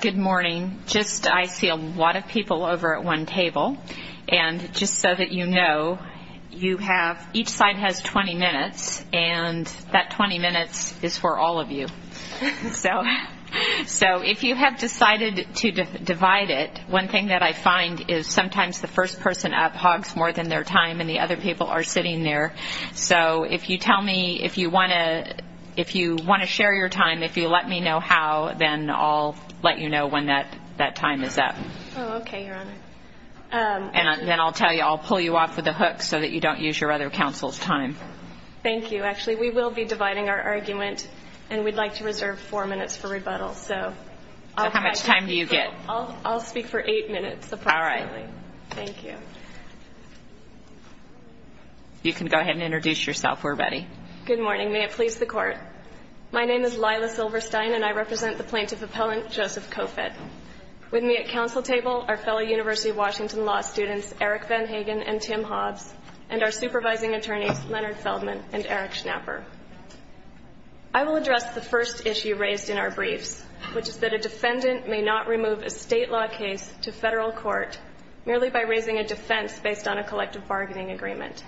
Good morning. I see a lot of people over at one table. And just so that you know, each side has 20 minutes, and that 20 minutes is for all of you. So if you have decided to divide it, one thing that I find is sometimes the first person up hogs more than their time and the other people are sitting there. So if you want to share your time, if you let me know how, then I'll let you know when that time is up. Oh, okay, Your Honor. And then I'll tell you, I'll pull you off with a hook so that you don't use your other counsel's time. Thank you. Actually, we will be dividing our argument, and we'd like to reserve four minutes for rebuttal. How much time do you get? I'll speak for eight minutes approximately. All right. Thank you. You can go ahead and introduce yourself, where, Betty? Good morning. May it please the Court. My name is Lila Silverstein, and I represent the plaintiff appellant, Joseph Kofed. With me at counsel table are fellow University of Washington law students, Eric Van Hagen and Tim Hobbs, and our supervising attorneys, Leonard Feldman and Eric Schnapper. I will address the first issue raised in our briefs, which is that a defendant may not remove a State law case to Federal court merely by raising a defense based on a collective bargaining agreement.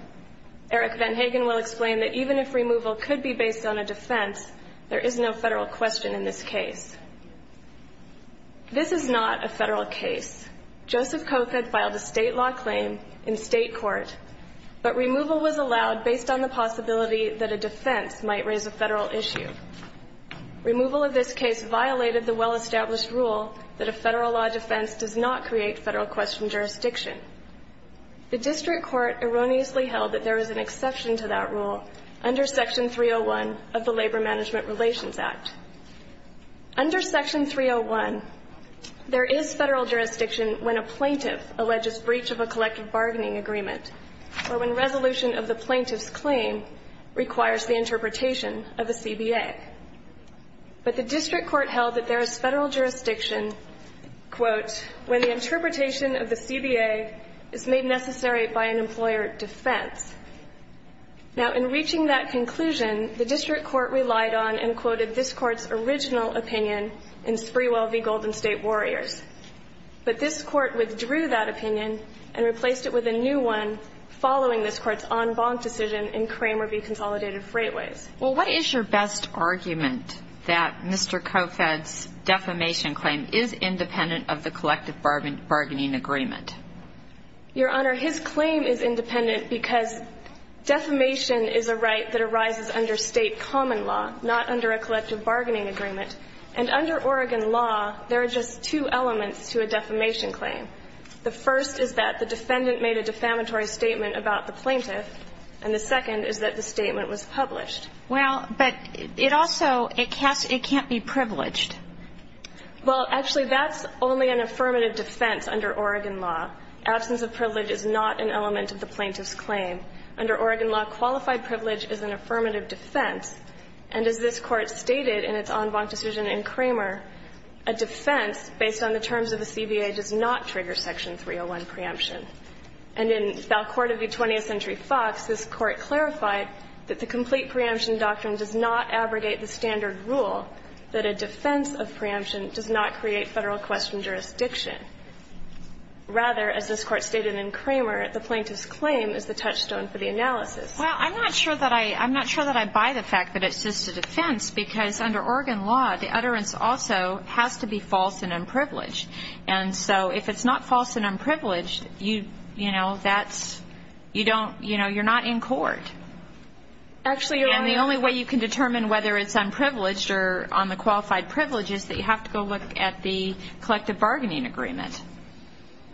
Eric Van Hagen will explain that even if removal could be based on a defense, there is no Federal question in this case. This is not a Federal case. Joseph Kofed filed a State law claim in State court, but removal was allowed based on the possibility that a defense might raise a Federal issue. Removal of this case violated the well-established rule that a Federal law defense does not create Federal question jurisdiction. The district court erroneously held that there is an exception to that rule under Section 301 of the Labor Management Relations Act. Under Section 301, there is Federal jurisdiction when a plaintiff alleges breach of a collective bargaining agreement or when resolution of the plaintiff's claim requires the interpretation of a CBA. But the district court held that there is Federal jurisdiction, quote, when the interpretation of the CBA is made necessary by an employer defense. Now, in reaching that conclusion, the district court relied on and quoted this Court's original opinion in Sprewell v. Golden State Warriors. But this Court withdrew that opinion and replaced it with a new one following this Court's en banc decision in Kramer v. Consolidated Freightways. Well, what is your best argument that Mr. Kofed's defamation claim is independent of the collective bargaining agreement? Your Honor, his claim is independent because defamation is a right that arises under State common law, not under a collective bargaining agreement. And under Oregon law, there are just two elements to a defamation claim. The first is that the defendant made a defamatory statement about the plaintiff. And the second is that the statement was published. Well, but it also, it can't be privileged. Well, actually, that's only an affirmative defense under Oregon law. Absence of privilege is not an element of the plaintiff's claim. Under Oregon law, qualified privilege is an affirmative defense. And as this Court stated in its en banc decision in Kramer, a defense based on the terms of the CBA does not trigger Section 301 preemption. And in Falcord v. 20th Century Fox, this Court clarified that the complete preemption doctrine does not abrogate the standard rule that a defense of preemption does not create Federal question jurisdiction. Rather, as this Court stated in Kramer, the plaintiff's claim is the touchstone for the analysis. Well, I'm not sure that I, I'm not sure that I buy the fact that it's just a defense because under Oregon law, the utterance also has to be false and unprivileged. And so if it's not false and unprivileged, you, you know, that's, you don't, you know, you're not in court. Actually, Your Honor. And the only way you can determine whether it's unprivileged or on the qualified privilege is that you have to go look at the collective bargaining agreement.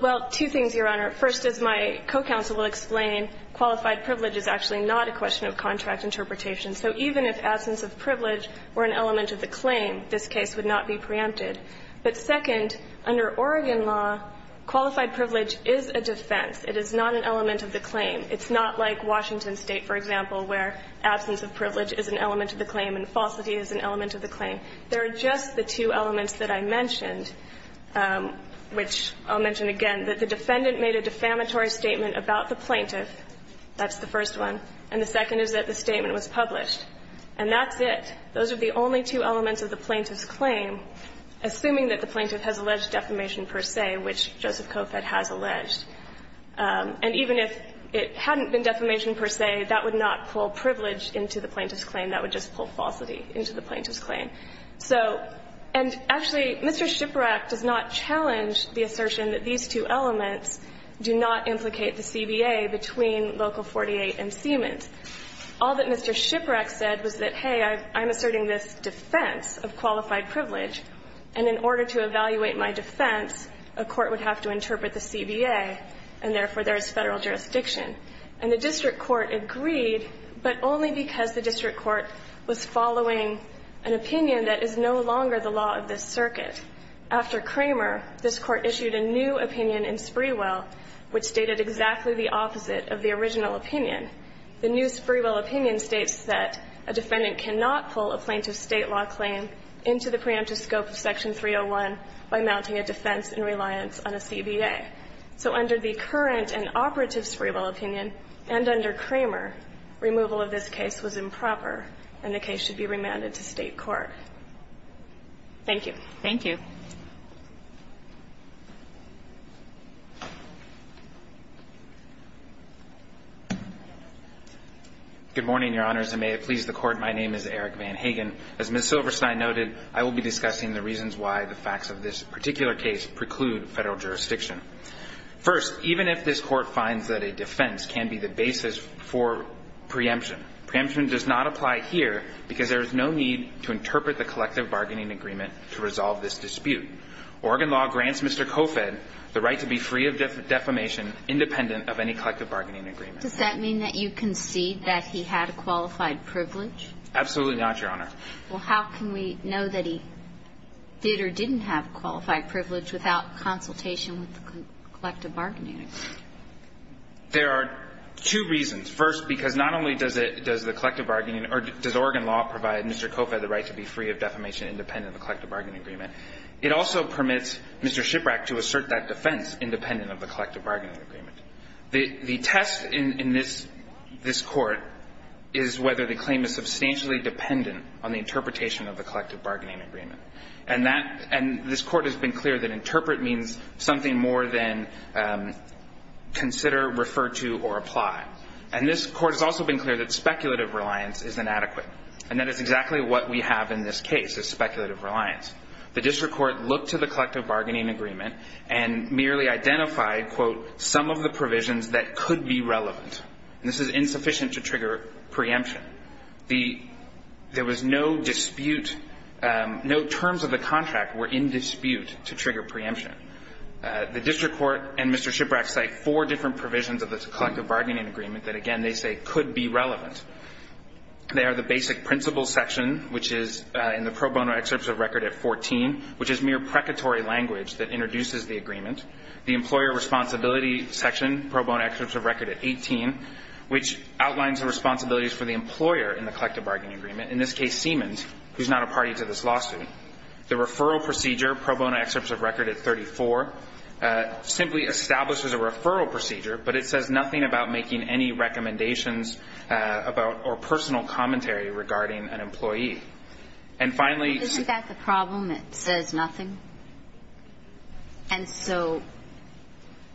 Well, two things, Your Honor. First, as my co-counsel will explain, qualified privilege is actually not a question of contract interpretation. So even if absence of privilege were an element of the claim, this case would not be preempted. But second, under Oregon law, qualified privilege is a defense. It is not an element of the claim. It's not like Washington State, for example, where absence of privilege is an element of the claim and falsity is an element of the claim. There are just the two elements that I mentioned, which I'll mention again, that if the defendant made a defamatory statement about the plaintiff, that's the first one, and the second is that the statement was published, and that's it. Those are the only two elements of the plaintiff's claim, assuming that the plaintiff has alleged defamation per se, which Joseph Kofet has alleged. And even if it hadn't been defamation per se, that would not pull privilege into the plaintiff's claim. That would just pull falsity into the plaintiff's claim. So and actually, Mr. Shiprock does not challenge the assertion that these two elements do not implicate the CBA between Local 48 and Siemens. All that Mr. Shiprock said was that, hey, I'm asserting this defense of qualified privilege, and in order to evaluate my defense, a court would have to interpret the CBA, and therefore there is Federal jurisdiction. And the district court agreed, but only because the district court was following an opinion that is no longer the law of this circuit. After Kramer, this Court issued a new opinion in Sprewell, which stated exactly the opposite of the original opinion. The new Sprewell opinion states that a defendant cannot pull a plaintiff's State law claim into the preemptive scope of Section 301 by mounting a defense in reliance on a CBA. So under the current and operative Sprewell opinion, and under Kramer, removal of this case was improper, and the case should be remanded to State court. Thank you. Thank you. Good morning, Your Honors, and may it please the Court. My name is Eric Van Hagen. As Ms. Silverstein noted, I will be discussing the reasons why the facts of this particular case preclude Federal jurisdiction. First, even if this Court finds that a defense can be the basis for preemption, preemption does not apply here because there is no need to interpret the collective bargaining agreement to resolve this dispute. Oregon law grants Mr. Cofed the right to be free of defamation, independent of any collective bargaining agreement. Does that mean that you concede that he had a qualified privilege? Absolutely not, Your Honor. Well, how can we know that he did or didn't have a qualified privilege without consultation with the collective bargaining agreement? There are two reasons. First, because not only does the collective bargaining or does Oregon law provide Mr. Cofed the right to be free of defamation, independent of the collective bargaining agreement, it also permits Mr. Shiprack to assert that defense, independent of the collective bargaining agreement. The test in this Court is whether the claim is substantially dependent on the interpretation of the collective bargaining agreement, and this Court has been clear that interpret means something more than consider, refer to, or apply. And this Court has also been clear that speculative reliance is inadequate, and that is exactly what we have in this case, is speculative reliance. The district court looked to the collective bargaining agreement and merely identified, quote, some of the provisions that could be relevant. This is insufficient to trigger preemption. The – there was no dispute – no terms of the contract were in dispute to trigger preemption. The district court and Mr. Shiprack cite four different provisions of the collective bargaining agreement that, again, they say could be relevant. They are the basic principles section, which is in the pro bono excerpts of record at 14, which is mere precatory language that introduces the agreement. The employer responsibility section, pro bono excerpts of record at 18, which outlines the responsibilities for the employer in the collective bargaining agreement, in this case, Siemens, who is not a party to this lawsuit. The referral procedure, pro bono excerpts of record at 34, simply establishes a referral procedure, but it says nothing about making any recommendations about – or personal commentary regarding an employee. And finally – But isn't that the problem? It says nothing. And so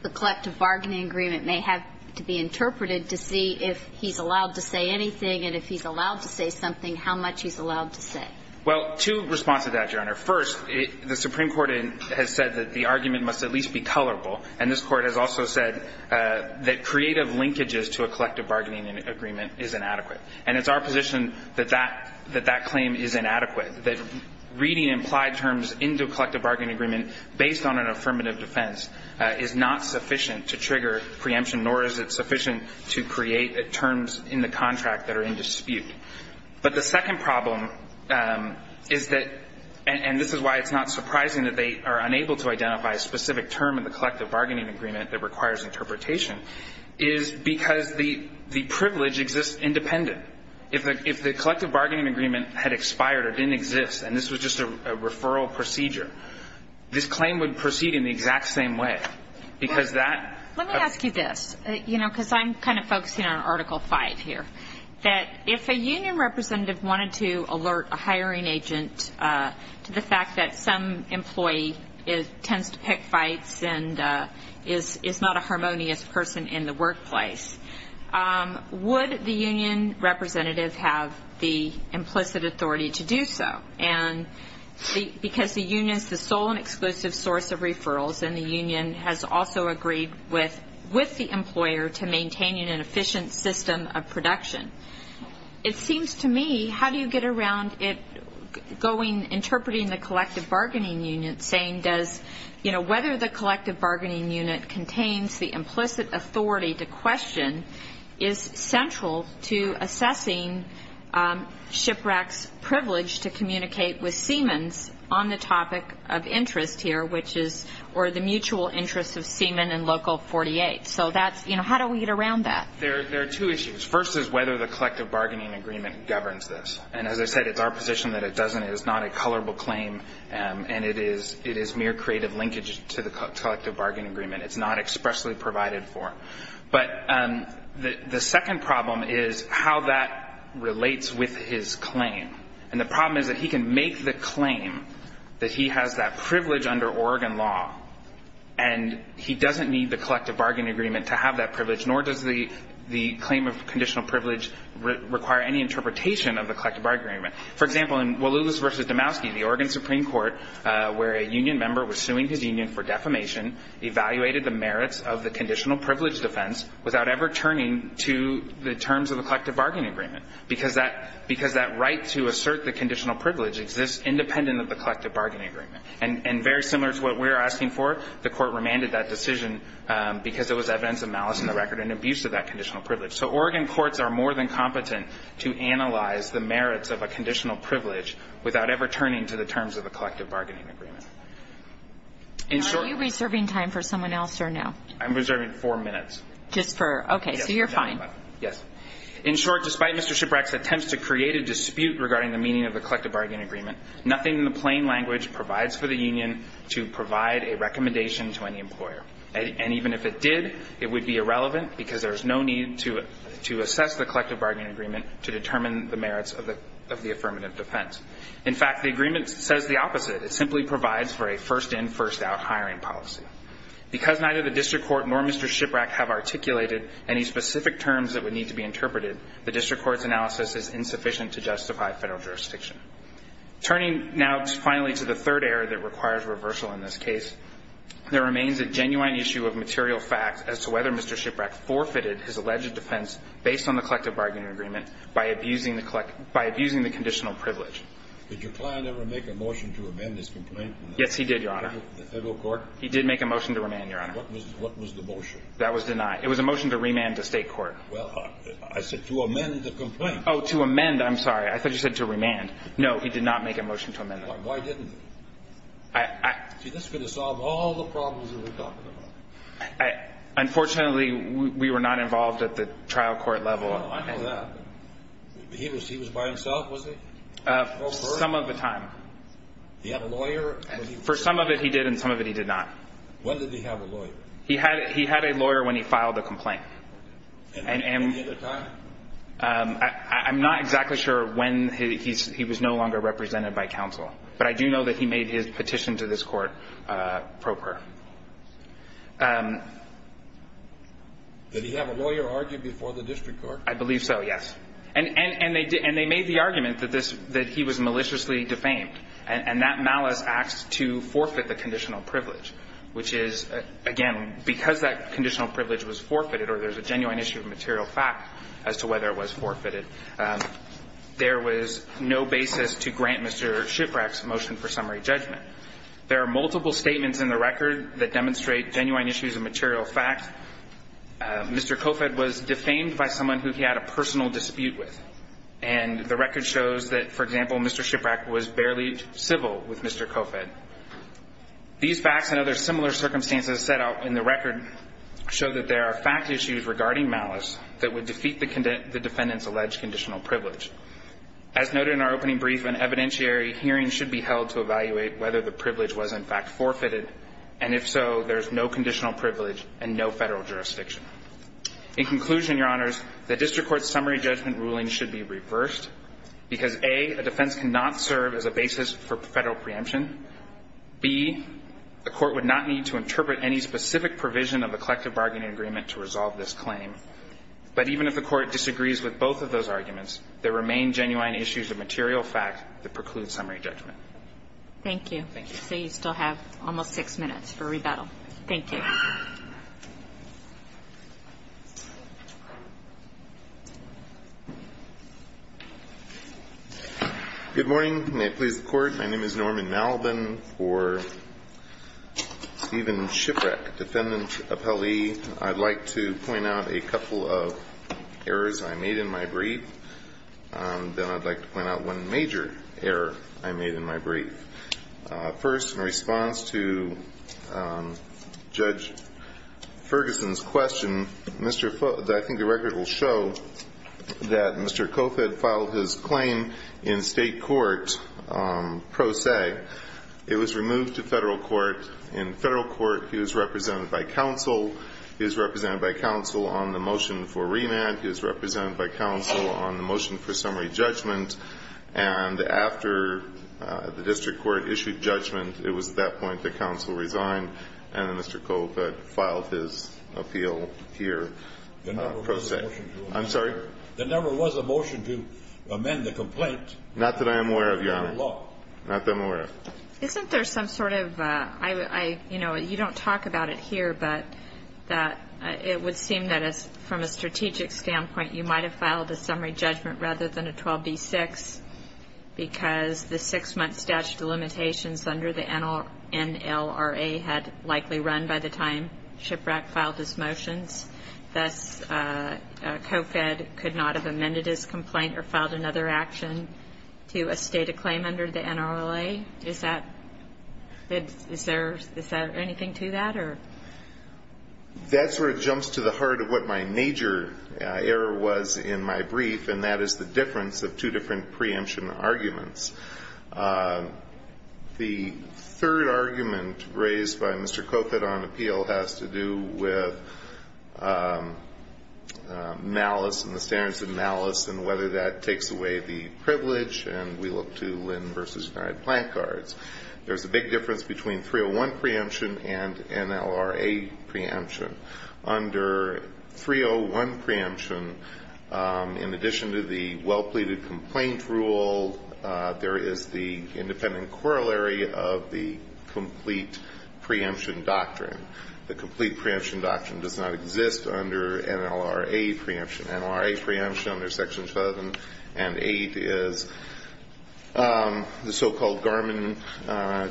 the collective bargaining agreement may have to be interpreted to see if he's allowed to say anything, and if he's allowed to say something, how much he's allowed to say. Well, two responses to that, Your Honor. First, the Supreme Court has said that the argument must at least be colorable, and this Court has also said that creative linkages to a collective bargaining agreement is inadequate. And it's our position that that claim is inadequate, that reading implied terms into a collective bargaining agreement based on an affirmative defense is not sufficient to trigger preemption, nor is it sufficient to create terms in the contract that are in dispute. But the second problem is that – and this is why it's not surprising that they are unable to identify a specific term in the collective bargaining agreement that requires interpretation – is because the privilege exists independent. If the collective bargaining agreement had expired or didn't exist, and this was just a referral procedure, this claim would proceed in the exact same way, because that – Let me ask you this, you know, because I'm kind of focusing on Article V here. That if a union representative wanted to alert a hiring agent to the fact that some employee tends to pick fights and is not a harmonious person in the workplace, would the union representative have the implicit authority to do so? And because the union is the sole and exclusive source of referrals, and the union has also agreed with the employer to maintaining an efficient system of production. It seems to me, how do you get around it going – interpreting the collective bargaining unit, saying does – you know, whether the collective bargaining unit contains the implicit authority to question is central to assessing SHPRAC's privilege to communicate with Siemens on the topic of interest here, which is – or the mutual interest of Siemen and Local 48. So that's – you know, how do we get around that? There are two issues. First is whether the collective bargaining agreement governs this. And as I said, it's our position that it doesn't. It is not a colorable claim, and it is mere creative linkage to the collective bargaining agreement. It's not expressly provided for. But the second problem is how that relates with his claim. And the problem is that he can make the claim that he has that privilege under Oregon law, and he doesn't need the collective bargaining agreement to have that privilege, nor does the claim of conditional privilege require any interpretation of the collective bargaining agreement. For example, in Walulis v. Domowski, the Oregon Supreme Court, where a union member was suing his union for defamation, evaluated the merits of the conditional privilege defense without ever turning to the terms of the collective bargaining agreement. Because that – because that right to assert the conditional privilege exists independent of the collective bargaining agreement. And very similar to what we're asking for, the Court remanded that decision because it was evidence of malice in the record and abuse of that conditional privilege. So Oregon courts are more than competent to analyze the merits of a conditional privilege without ever turning to the terms of the collective bargaining agreement. In short – Are you reserving time for someone else or no? I'm reserving four minutes. Just for – okay. So you're fine. Yes. In short, despite Mr. Shiprack's attempts to create a dispute regarding the meaning of the collective bargaining agreement, nothing in the plain language provides for the union to provide a recommendation to any employer. And even if it did, it would be irrelevant because there's no need to – to assess the collective bargaining agreement to determine the merits of the – of the affirmative defense. In fact, the agreement says the opposite. It simply provides for a first-in, first-out hiring policy. Because neither the district court nor Mr. Shiprack have articulated any specific terms that would need to be interpreted, the district court's analysis is insufficient to justify Federal jurisdiction. Turning now finally to the third error that requires reversal in this case, there remains a genuine issue of material fact as to whether Mr. Shiprack forfeited his alleged defense based on the collective bargaining agreement by abusing the – by abusing the conditional privilege. Did your client ever make a motion to amend this complaint? Yes, he did, Your Honor. The Federal court? He did make a motion to amend, Your Honor. What was – what was the motion? That was denied. It was a motion to remand to State court. Well, I said to amend the complaint. Oh, to amend. I'm sorry. I thought you said to remand. No, he did not make a motion to amend it. Why didn't he? I – I – See, this could have solved all the problems that we're talking about. Unfortunately, we were not involved at the trial court level. Well, I know that. He was – he was by himself, was he? Some of the time. He had a lawyer? When did he have a lawyer? He had – he had a lawyer when he filed the complaint. Any other time? I'm not exactly sure when he's – he was no longer represented by counsel. But I do know that he made his petition to this court proper. Did he have a lawyer argued before the district court? I believe so, yes. And – and they did – and they made the argument that this – that he was maliciously defamed. And that malice acts to forfeit the conditional privilege, which is, again, because that conditional privilege was forfeited or there's a genuine issue of material fact as to whether it was forfeited, there was no basis to grant Mr. Shiprack's motion for summary judgment. There are multiple statements in the record that demonstrate genuine issues of material fact. Mr. Kofet was defamed by someone who he had a personal dispute with. And the record shows that, for example, Mr. Shiprack was barely civil with Mr. Kofet. These facts and other similar circumstances set out in the record show that there are fact issues regarding malice that would defeat the defendant's alleged conditional privilege. As noted in our opening brief, an evidentiary hearing should be held to evaluate whether the privilege was, in fact, forfeited. And if so, there's no conditional privilege and no federal jurisdiction. In conclusion, Your Honors, the district court's summary judgment ruling should be reversed because, A, a defense cannot serve as a basis for federal preemption. B, the court would not need to interpret any specific provision of a collective bargaining agreement to resolve this claim. But even if the court disagrees with both of those arguments, there remain genuine issues of material fact that preclude summary judgment. Thank you. Thank you. So you still have almost six minutes for rebuttal. Thank you. Good morning. May it please the Court. My name is Norman Malbin for Stephen Shiprack, defendant appellee. I'd like to point out a couple of errors I made in my brief. Then I'd like to point out one major error I made in my brief. First, in response to Judge Ferguson's question, I think the record will show that Mr. Kofod filed his claim in state court pro se. It was removed to federal court. In federal court, he was represented by counsel. He was represented by counsel on the motion for remand. He was represented by counsel on the motion for summary judgment. And after the district court issued judgment, it was at that point that counsel resigned and Mr. Kofod filed his appeal here pro se. I'm sorry? There never was a motion to amend the complaint. Not that I am aware of, Your Honor. Not that I'm aware of. Isn't there some sort of you don't talk about it here, but it would seem that from a strategic standpoint, you might have filed a summary judgment rather than a 12B-6 because the six-month statute of limitations under the NLRA had likely run by the time Shiprock filed his motions. Thus, Kofod could not have amended his complaint or filed another action to estate a claim under the NRLA. Is there anything to that? Your Honor, that sort of jumps to the heart of what my major error was in my brief, and that is the difference of two different preemption arguments. The third argument raised by Mr. Kofod on appeal has to do with malice and the standards of malice and whether that takes away the privilege, and we look to Lynn v. Schneider at Plancards. There's a big difference between 301 preemption and NLRA preemption. Under 301 preemption, in addition to the well-pleaded complaint rule, there is the independent corollary of the complete preemption doctrine. The complete preemption doctrine does not exist under NLRA preemption. NLRA preemption under Sections 7 and 8 is the so-called Garmin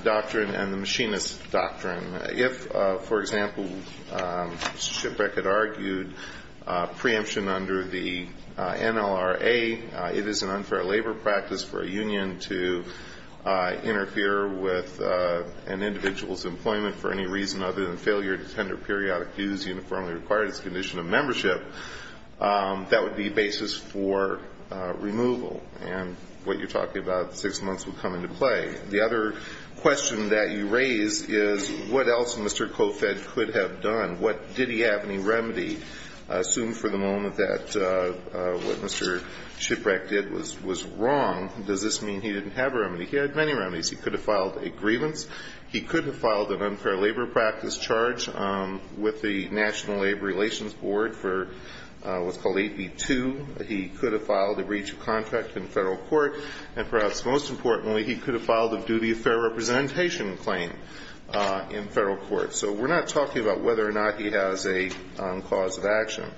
doctrine and the machinist doctrine. If, for example, Shiprock had argued preemption under the NLRA, it is an unfair labor practice for a union to interfere with an individual's employment for any reason other than failure to tender periodic dues uniformly required as a condition of membership. That would be a basis for removal. And what you're talking about, six months would come into play. The other question that you raise is what else Mr. Kofod could have done? What did he have any remedy? Assume for the moment that what Mr. Shiprock did was wrong. Does this mean he didn't have a remedy? He had many remedies. He could have filed a grievance. He could have filed an unfair labor practice charge with the National Labor Relations Board for what's called AP2. He could have filed a breach of contract in Federal court. And perhaps most importantly, he could have filed a duty of fair representation claim in Federal court. So we're not talking about whether or not he has a cause of action.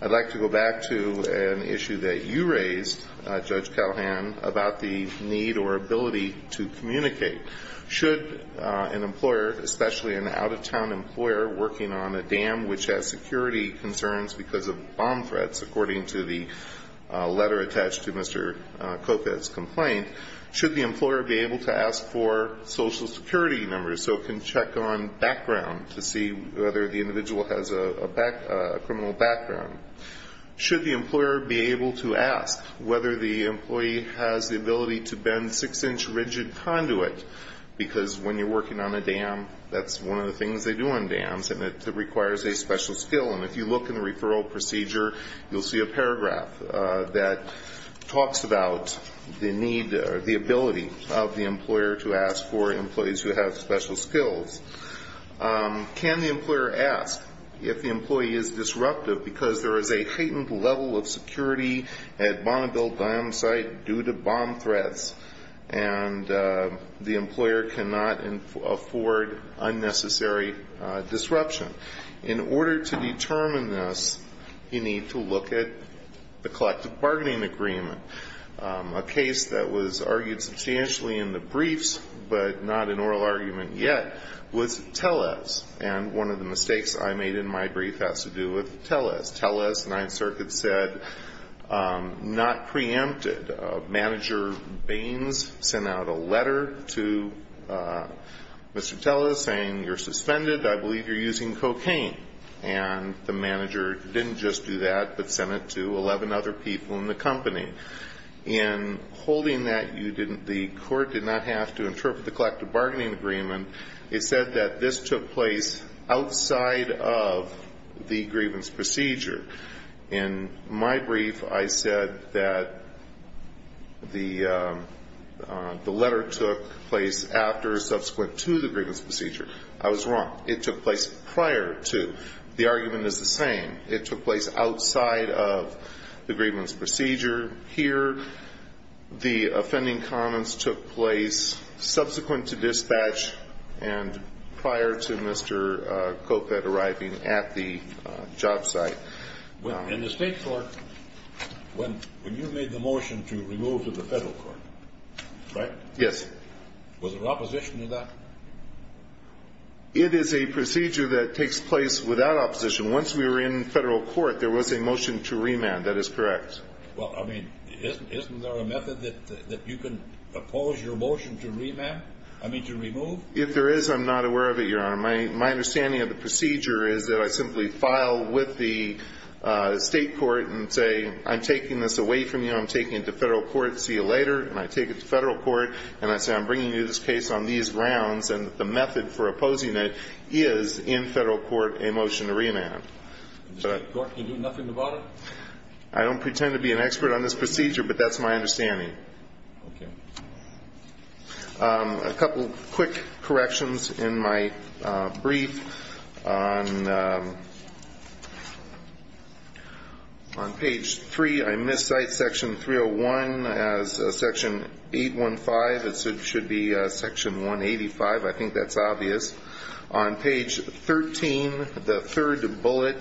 I'd like to go back to an issue that you raised, Judge Calahan, about the need or ability to communicate. Should an employer, especially an out-of-town employer working on a dam which has security concerns because of bomb threats, according to the letter attached to Mr. Kofod's complaint, should the employer be able to ask for Social Security numbers so it can check on background to see whether the individual has a criminal background? Should the employer be able to ask whether the employee has the ability to bend a six-inch rigid conduit? Because when you're working on a dam, that's one of the things they do on dams, and it requires a special skill. And if you look in the referral procedure, you'll see a paragraph that talks about the need or the ability of the employer to ask for employees who have special skills. Can the employer ask if the employee is disruptive because there is a heightened level of security at Bonneville Dam site due to bomb threats, and the employer cannot afford unnecessary disruption? In order to determine this, you need to look at the collective bargaining agreement. A case that was argued substantially in the briefs, but not an oral argument yet, was Tellez. And one of the mistakes I made in my brief has to do with Tellez. Tellez, Ninth Circuit said, not preempted. Manager Baines sent out a letter to Mr. Tellez saying, you're suspended. I believe you're using cocaine. And the manager didn't just do that, but sent it to 11 other people in the company. In holding that, you didn't the court did not have to interpret the collective bargaining agreement. It said that this took place outside of the grievance procedure. In my brief, I said that the letter took place after, subsequent to the grievance procedure. I was wrong. It took place prior to. The argument is the same. It took place outside of the grievance procedure. Here, the offending comments took place subsequent to dispatch and prior to Mr. Copett arriving at the job site. In the State court, when you made the motion to remove to the Federal court, right? Yes. Was there opposition to that? It is a procedure that takes place without opposition. Once we were in Federal court, there was a motion to remand. That is correct. Well, I mean, isn't there a method that you can oppose your motion to remand? I mean, to remove? If there is, I'm not aware of it, Your Honor. My understanding of the procedure is that I simply file with the State court and say, I'm taking this away from you. I'm taking it to Federal court. See you later. And I take it to Federal court. And I say, I'm bringing you this case on these grounds. And the method for opposing it is in Federal court, a motion to remand. The State court can do nothing about it? I don't pretend to be an expert on this procedure, but that's my understanding. Okay. A couple quick corrections in my brief. On page 3, I miss cite section 301 as section 815. It should be section 185. I think that's obvious. On page 13, the third bullet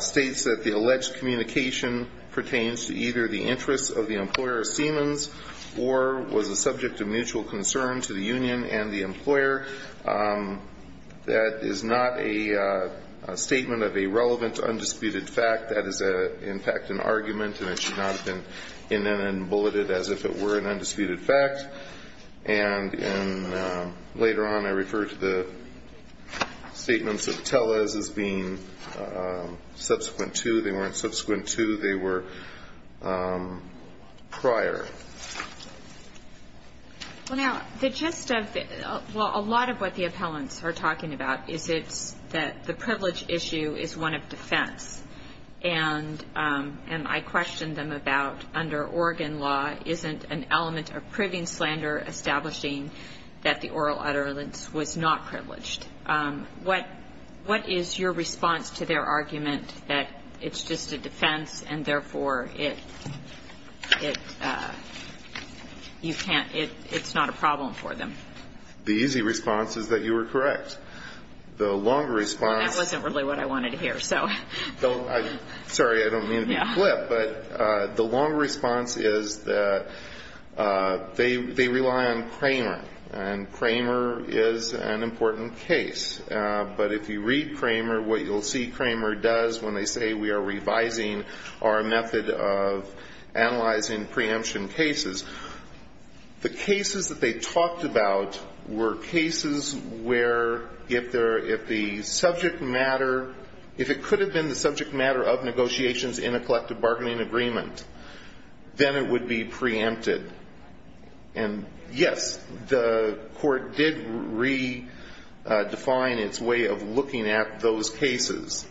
states that the alleged communication pertains to either the interests of the employer, Siemens, or was a subject of mutual concern to the union and the employer. That is not a statement of a relevant undisputed fact. That is, in fact, an argument, and it should not have been in and then bulleted as if it were an undisputed fact. And later on, I refer to the statements of Tellez as being subsequent to. They weren't subsequent to. They were prior. Well, now, the gist of it, well, a lot of what the appellants are talking about is it's that the privilege issue is one of defense. And I question them about under Oregon law, isn't an element of proving slander establishing that the oral utterance was not privileged? What is your response to their argument that it's just a defense and, therefore, it's not a problem for them? The easy response is that you were correct. The longer response. That wasn't really what I wanted to hear. Sorry, I don't mean to be blip, but the long response is that they rely on Kramer, and Kramer is an important case. But if you read Kramer, what you'll see Kramer does when they say we are revising our method of analyzing preemption cases, the cases that they talked about were cases where if the subject matter, if it could have been the subject matter of negotiations in a collective bargaining agreement, then it would be preempted. And, yes, the court did redefine its way of looking at those cases.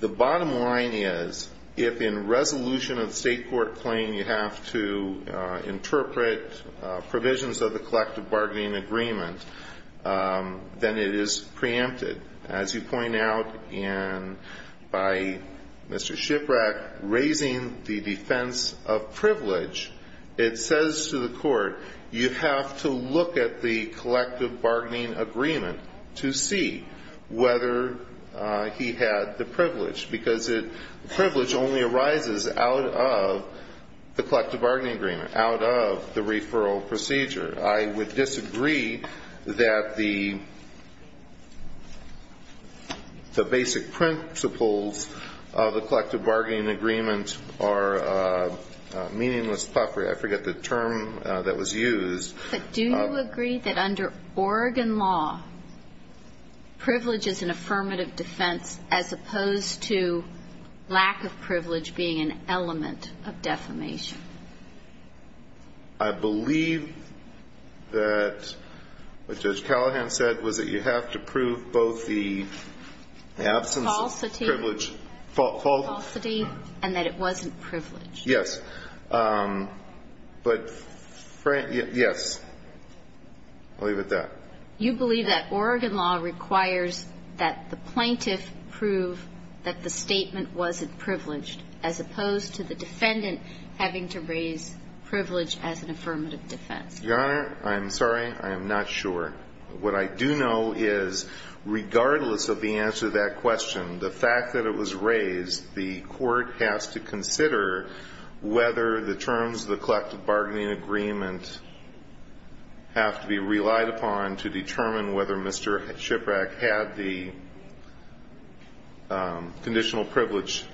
The bottom line is if in resolution of the state court claim you have to interpret provisions of the collective bargaining agreement, then it is preempted. As you point out, and by Mr. Shiprack raising the defense of privilege, it says to the court you have to look at the collective bargaining agreement to see whether he had the privilege, because the privilege only arises out of the collective bargaining agreement, out of the referral procedure. I would disagree that the basic principles of the collective bargaining agreement are meaningless puffery. I forget the term that was used. But do you agree that under Oregon law, privilege is an affirmative defense as opposed to lack of privilege being an element of defamation? I believe that what Judge Callahan said was that you have to prove both the absence of privilege. Falsity. Falsity. And that it wasn't privileged. Yes. But, yes. I'll leave it at that. You believe that Oregon law requires that the plaintiff prove that the statement was privileged as opposed to the defendant having to raise privilege as an affirmative defense. Your Honor, I'm sorry. I am not sure. What I do know is regardless of the answer to that question, the fact that it was raised, the court has to consider whether the terms of the collective bargaining agreement have to be relied upon to determine whether Mr. Shiprack had the conditional privilege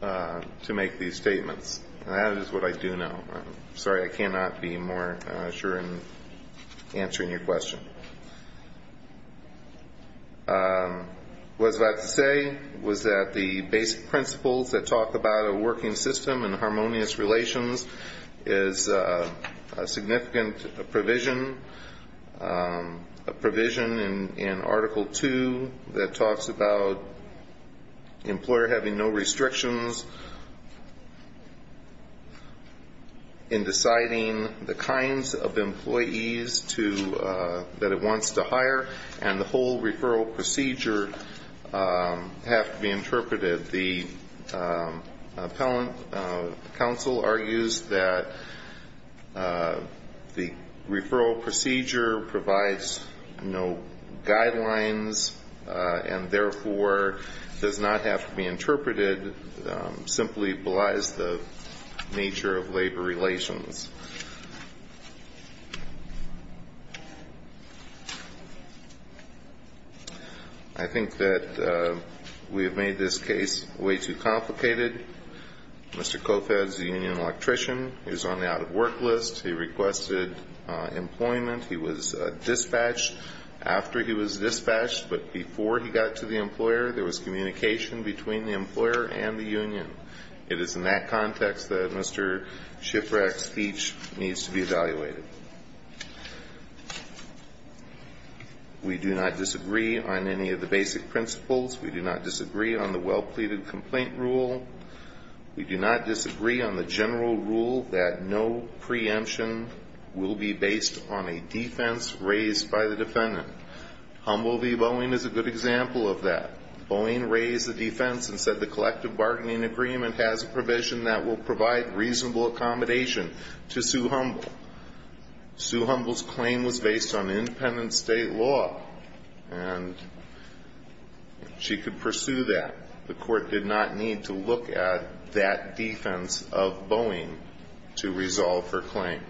to make these statements. And that is what I do know. I'm sorry. I cannot be more sure in answering your question. What I was about to say was that the basic principles that talk about a working system and harmonious relations is a significant provision, a provision in Article 2 that talks about the employer having no restrictions in deciding the kinds of employees that it wants to hire, and the whole referral procedure have to be interpreted. The appellant counsel argues that the referral procedure provides no guidelines and, therefore, does not have to be interpreted, simply belies the nature of labor relations. I think that we have made this case way too complicated. Mr. Kofetz, the union electrician, is on the out-of-work list. He requested employment. He was dispatched after he was dispatched, but before he got to the employer, It is in that context that Mr. Shiprack's speech needs to be evaluated. We do not disagree on any of the basic principles. We do not disagree on the well-pleaded complaint rule. We do not disagree on the general rule that no preemption will be based on a defense raised by the defendant. Humble v. Boeing is a good example of that. Boeing raised a defense and said, The collective bargaining agreement has a provision that will provide reasonable accommodation to Sue Humble. Sue Humble's claim was based on independent state law, and she could pursue that. The court did not need to look at that defense of Boeing to resolve her claim.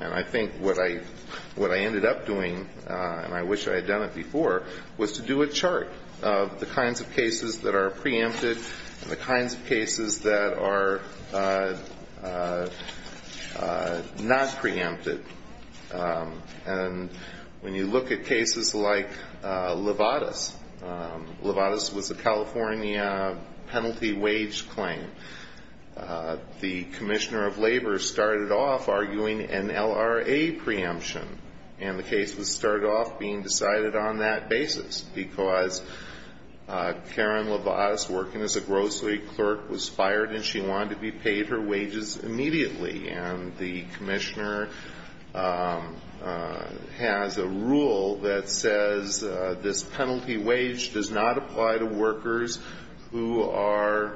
And I think what I ended up doing, and I wish I had done it before, was to do a chart of the kinds of cases that are preempted and the kinds of cases that are not preempted. And when you look at cases like Levatas, Levatas was a California penalty wage claim. The commissioner of labor started off arguing an LRA preemption, and the case was started off being decided on that basis because Karen Levatas, working as a grocery clerk, was fired, and she wanted to be paid her wages immediately. And the commissioner has a rule that says this penalty wage does not apply to workers who are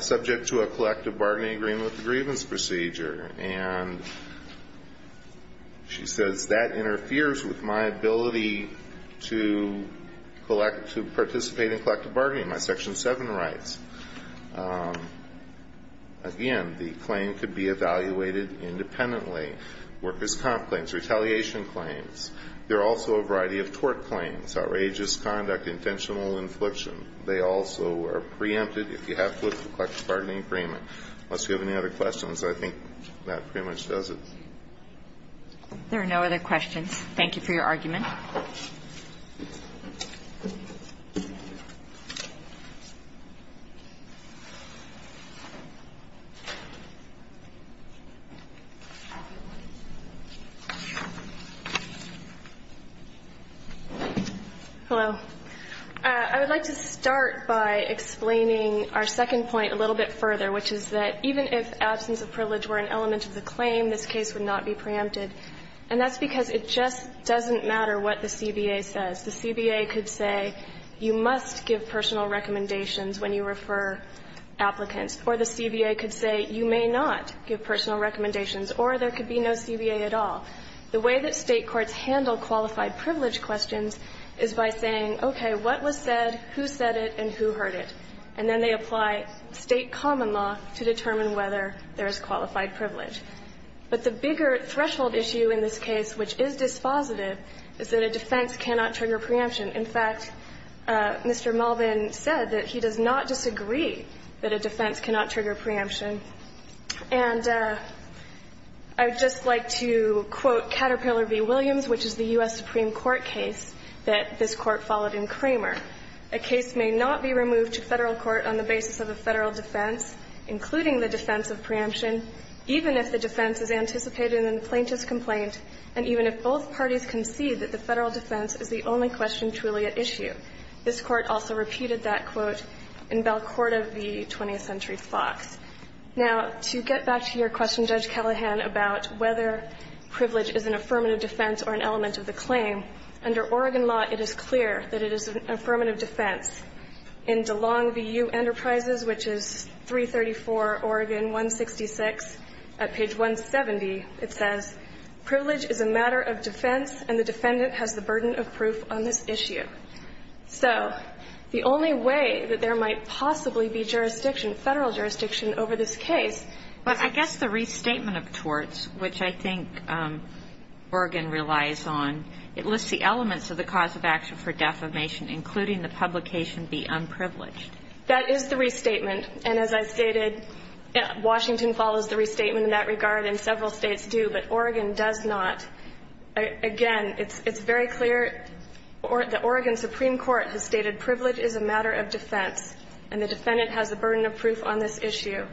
subject to a collective bargaining agreement with a grievance procedure. And she says that interferes with my ability to participate in collective bargaining. My Section 7 rights. Again, the claim could be evaluated independently, workers' comp claims, retaliation claims. There are also a variety of tort claims, outrageous conduct, intentional infliction. They also are preempted if you have collective bargaining agreement. Unless you have any other questions, I think that pretty much does it. Thank you for your argument. Hello. I would like to start by explaining our second point a little bit further, which is that even if absence of privilege were an element of the claim, this case would not be preempted. And that's because it just doesn't matter what the CBA says. The CBA could say, you must give personal recommendations when you refer applicants. Or the CBA could say, you may not give personal recommendations. Or there could be no CBA at all. The way that State courts handle qualified privilege questions is by saying, okay, what was said, who said it, and who heard it. And then they apply State common law to determine whether there is qualified privilege. But the bigger threshold issue in this case, which is dispositive, is that a defense cannot trigger preemption. In fact, Mr. Melvin said that he does not disagree that a defense cannot trigger preemption. And I would just like to quote Caterpillar v. Williams, which is the U.S. Supreme Court case that this Court followed in Kramer. This Court also repeated that quote in Belcourt v. 20th Century Fox. Now, to get back to your question, Judge Callahan, about whether privilege is an affirmative defense or an element of the claim, under Oregon law it is clear that it is an affirmative defense. In DeLong v. U. Enterprises, which is 334, Oregon 166, at page 170, it says, Privilege is a matter of defense, and the defendant has the burden of proof on this issue. So the only way that there might possibly be jurisdiction, Federal jurisdiction, over this case. But I guess the restatement of torts, which I think Oregon relies on, it lists the publication be unprivileged. That is the restatement. And as I stated, Washington follows the restatement in that regard, and several States do. But Oregon does not. Again, it's very clear. The Oregon Supreme Court has stated privilege is a matter of defense, and the defendant has the burden of proof on this issue.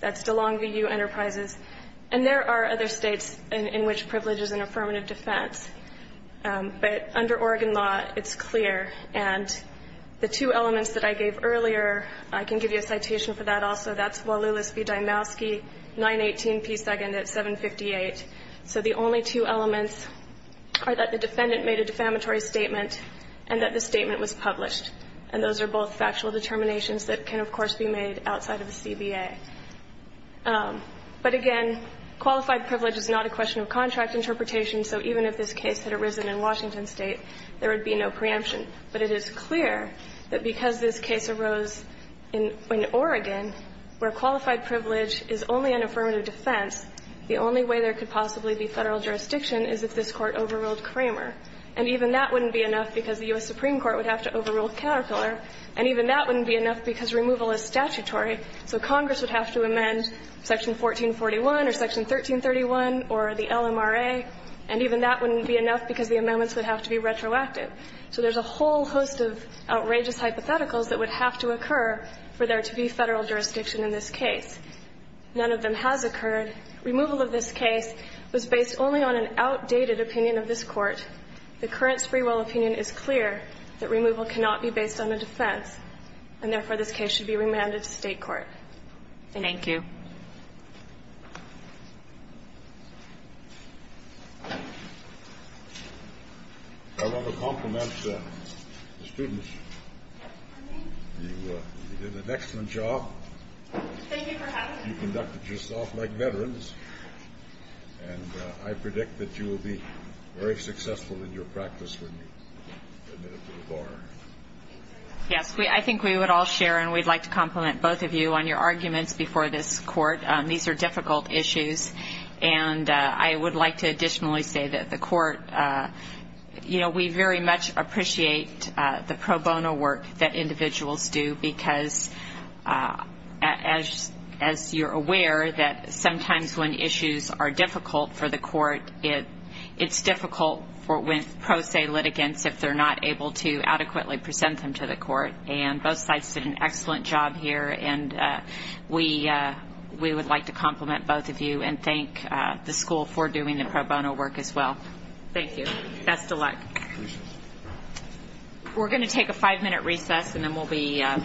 That's DeLong v. U. Enterprises. And there are other States in which privilege is an affirmative defense. But under Oregon law, it's clear. And the two elements that I gave earlier, I can give you a citation for that also. That's Walulis v. Dymowski, 918 P. 2nd at 758. So the only two elements are that the defendant made a defamatory statement, and that the statement was published. And those are both factual determinations that can, of course, be made outside of the CBA. But again, qualified privilege is not a question of contract interpretation. So even if this case had arisen in Washington State, there would be no preemption. But it is clear that because this case arose in Oregon, where qualified privilege is only an affirmative defense, the only way there could possibly be Federal jurisdiction is if this Court overruled Kramer. And even that wouldn't be enough because the U.S. Supreme Court would have to overrule Caterpillar. And even that wouldn't be enough because removal is statutory. So Congress would have to amend Section 1441 or Section 1331 or the LMRA. And even that wouldn't be enough because the amendments would have to be retroactive. So there's a whole host of outrageous hypotheticals that would have to occur for there to be Federal jurisdiction in this case. None of them has occurred. Removal of this case was based only on an outdated opinion of this Court. The current Sprewell opinion is clear that removal cannot be based on a defense, and therefore, this case should be remanded to State court. Thank you. I want to compliment the students. You did an excellent job. Thank you for having me. You conducted yourself like veterans. And I predict that you will be very successful in your practice when you admit to the bar. Yes, I think we would all share, and we'd like to compliment both of you on your arguments before this Court. These are difficult issues, and I would like to additionally say that the Court, you know, we very much appreciate the pro bono work that individuals do because, as you're aware, that sometimes when issues are difficult for the Court, it's difficult with pro se litigants if they're not able to adequately present them to the Court. And both sides did an excellent job here, and we would like to compliment both of you and thank the school for doing the pro bono work as well. Thank you. Best of luck. We're going to take a five-minute recess, and then we'll be back.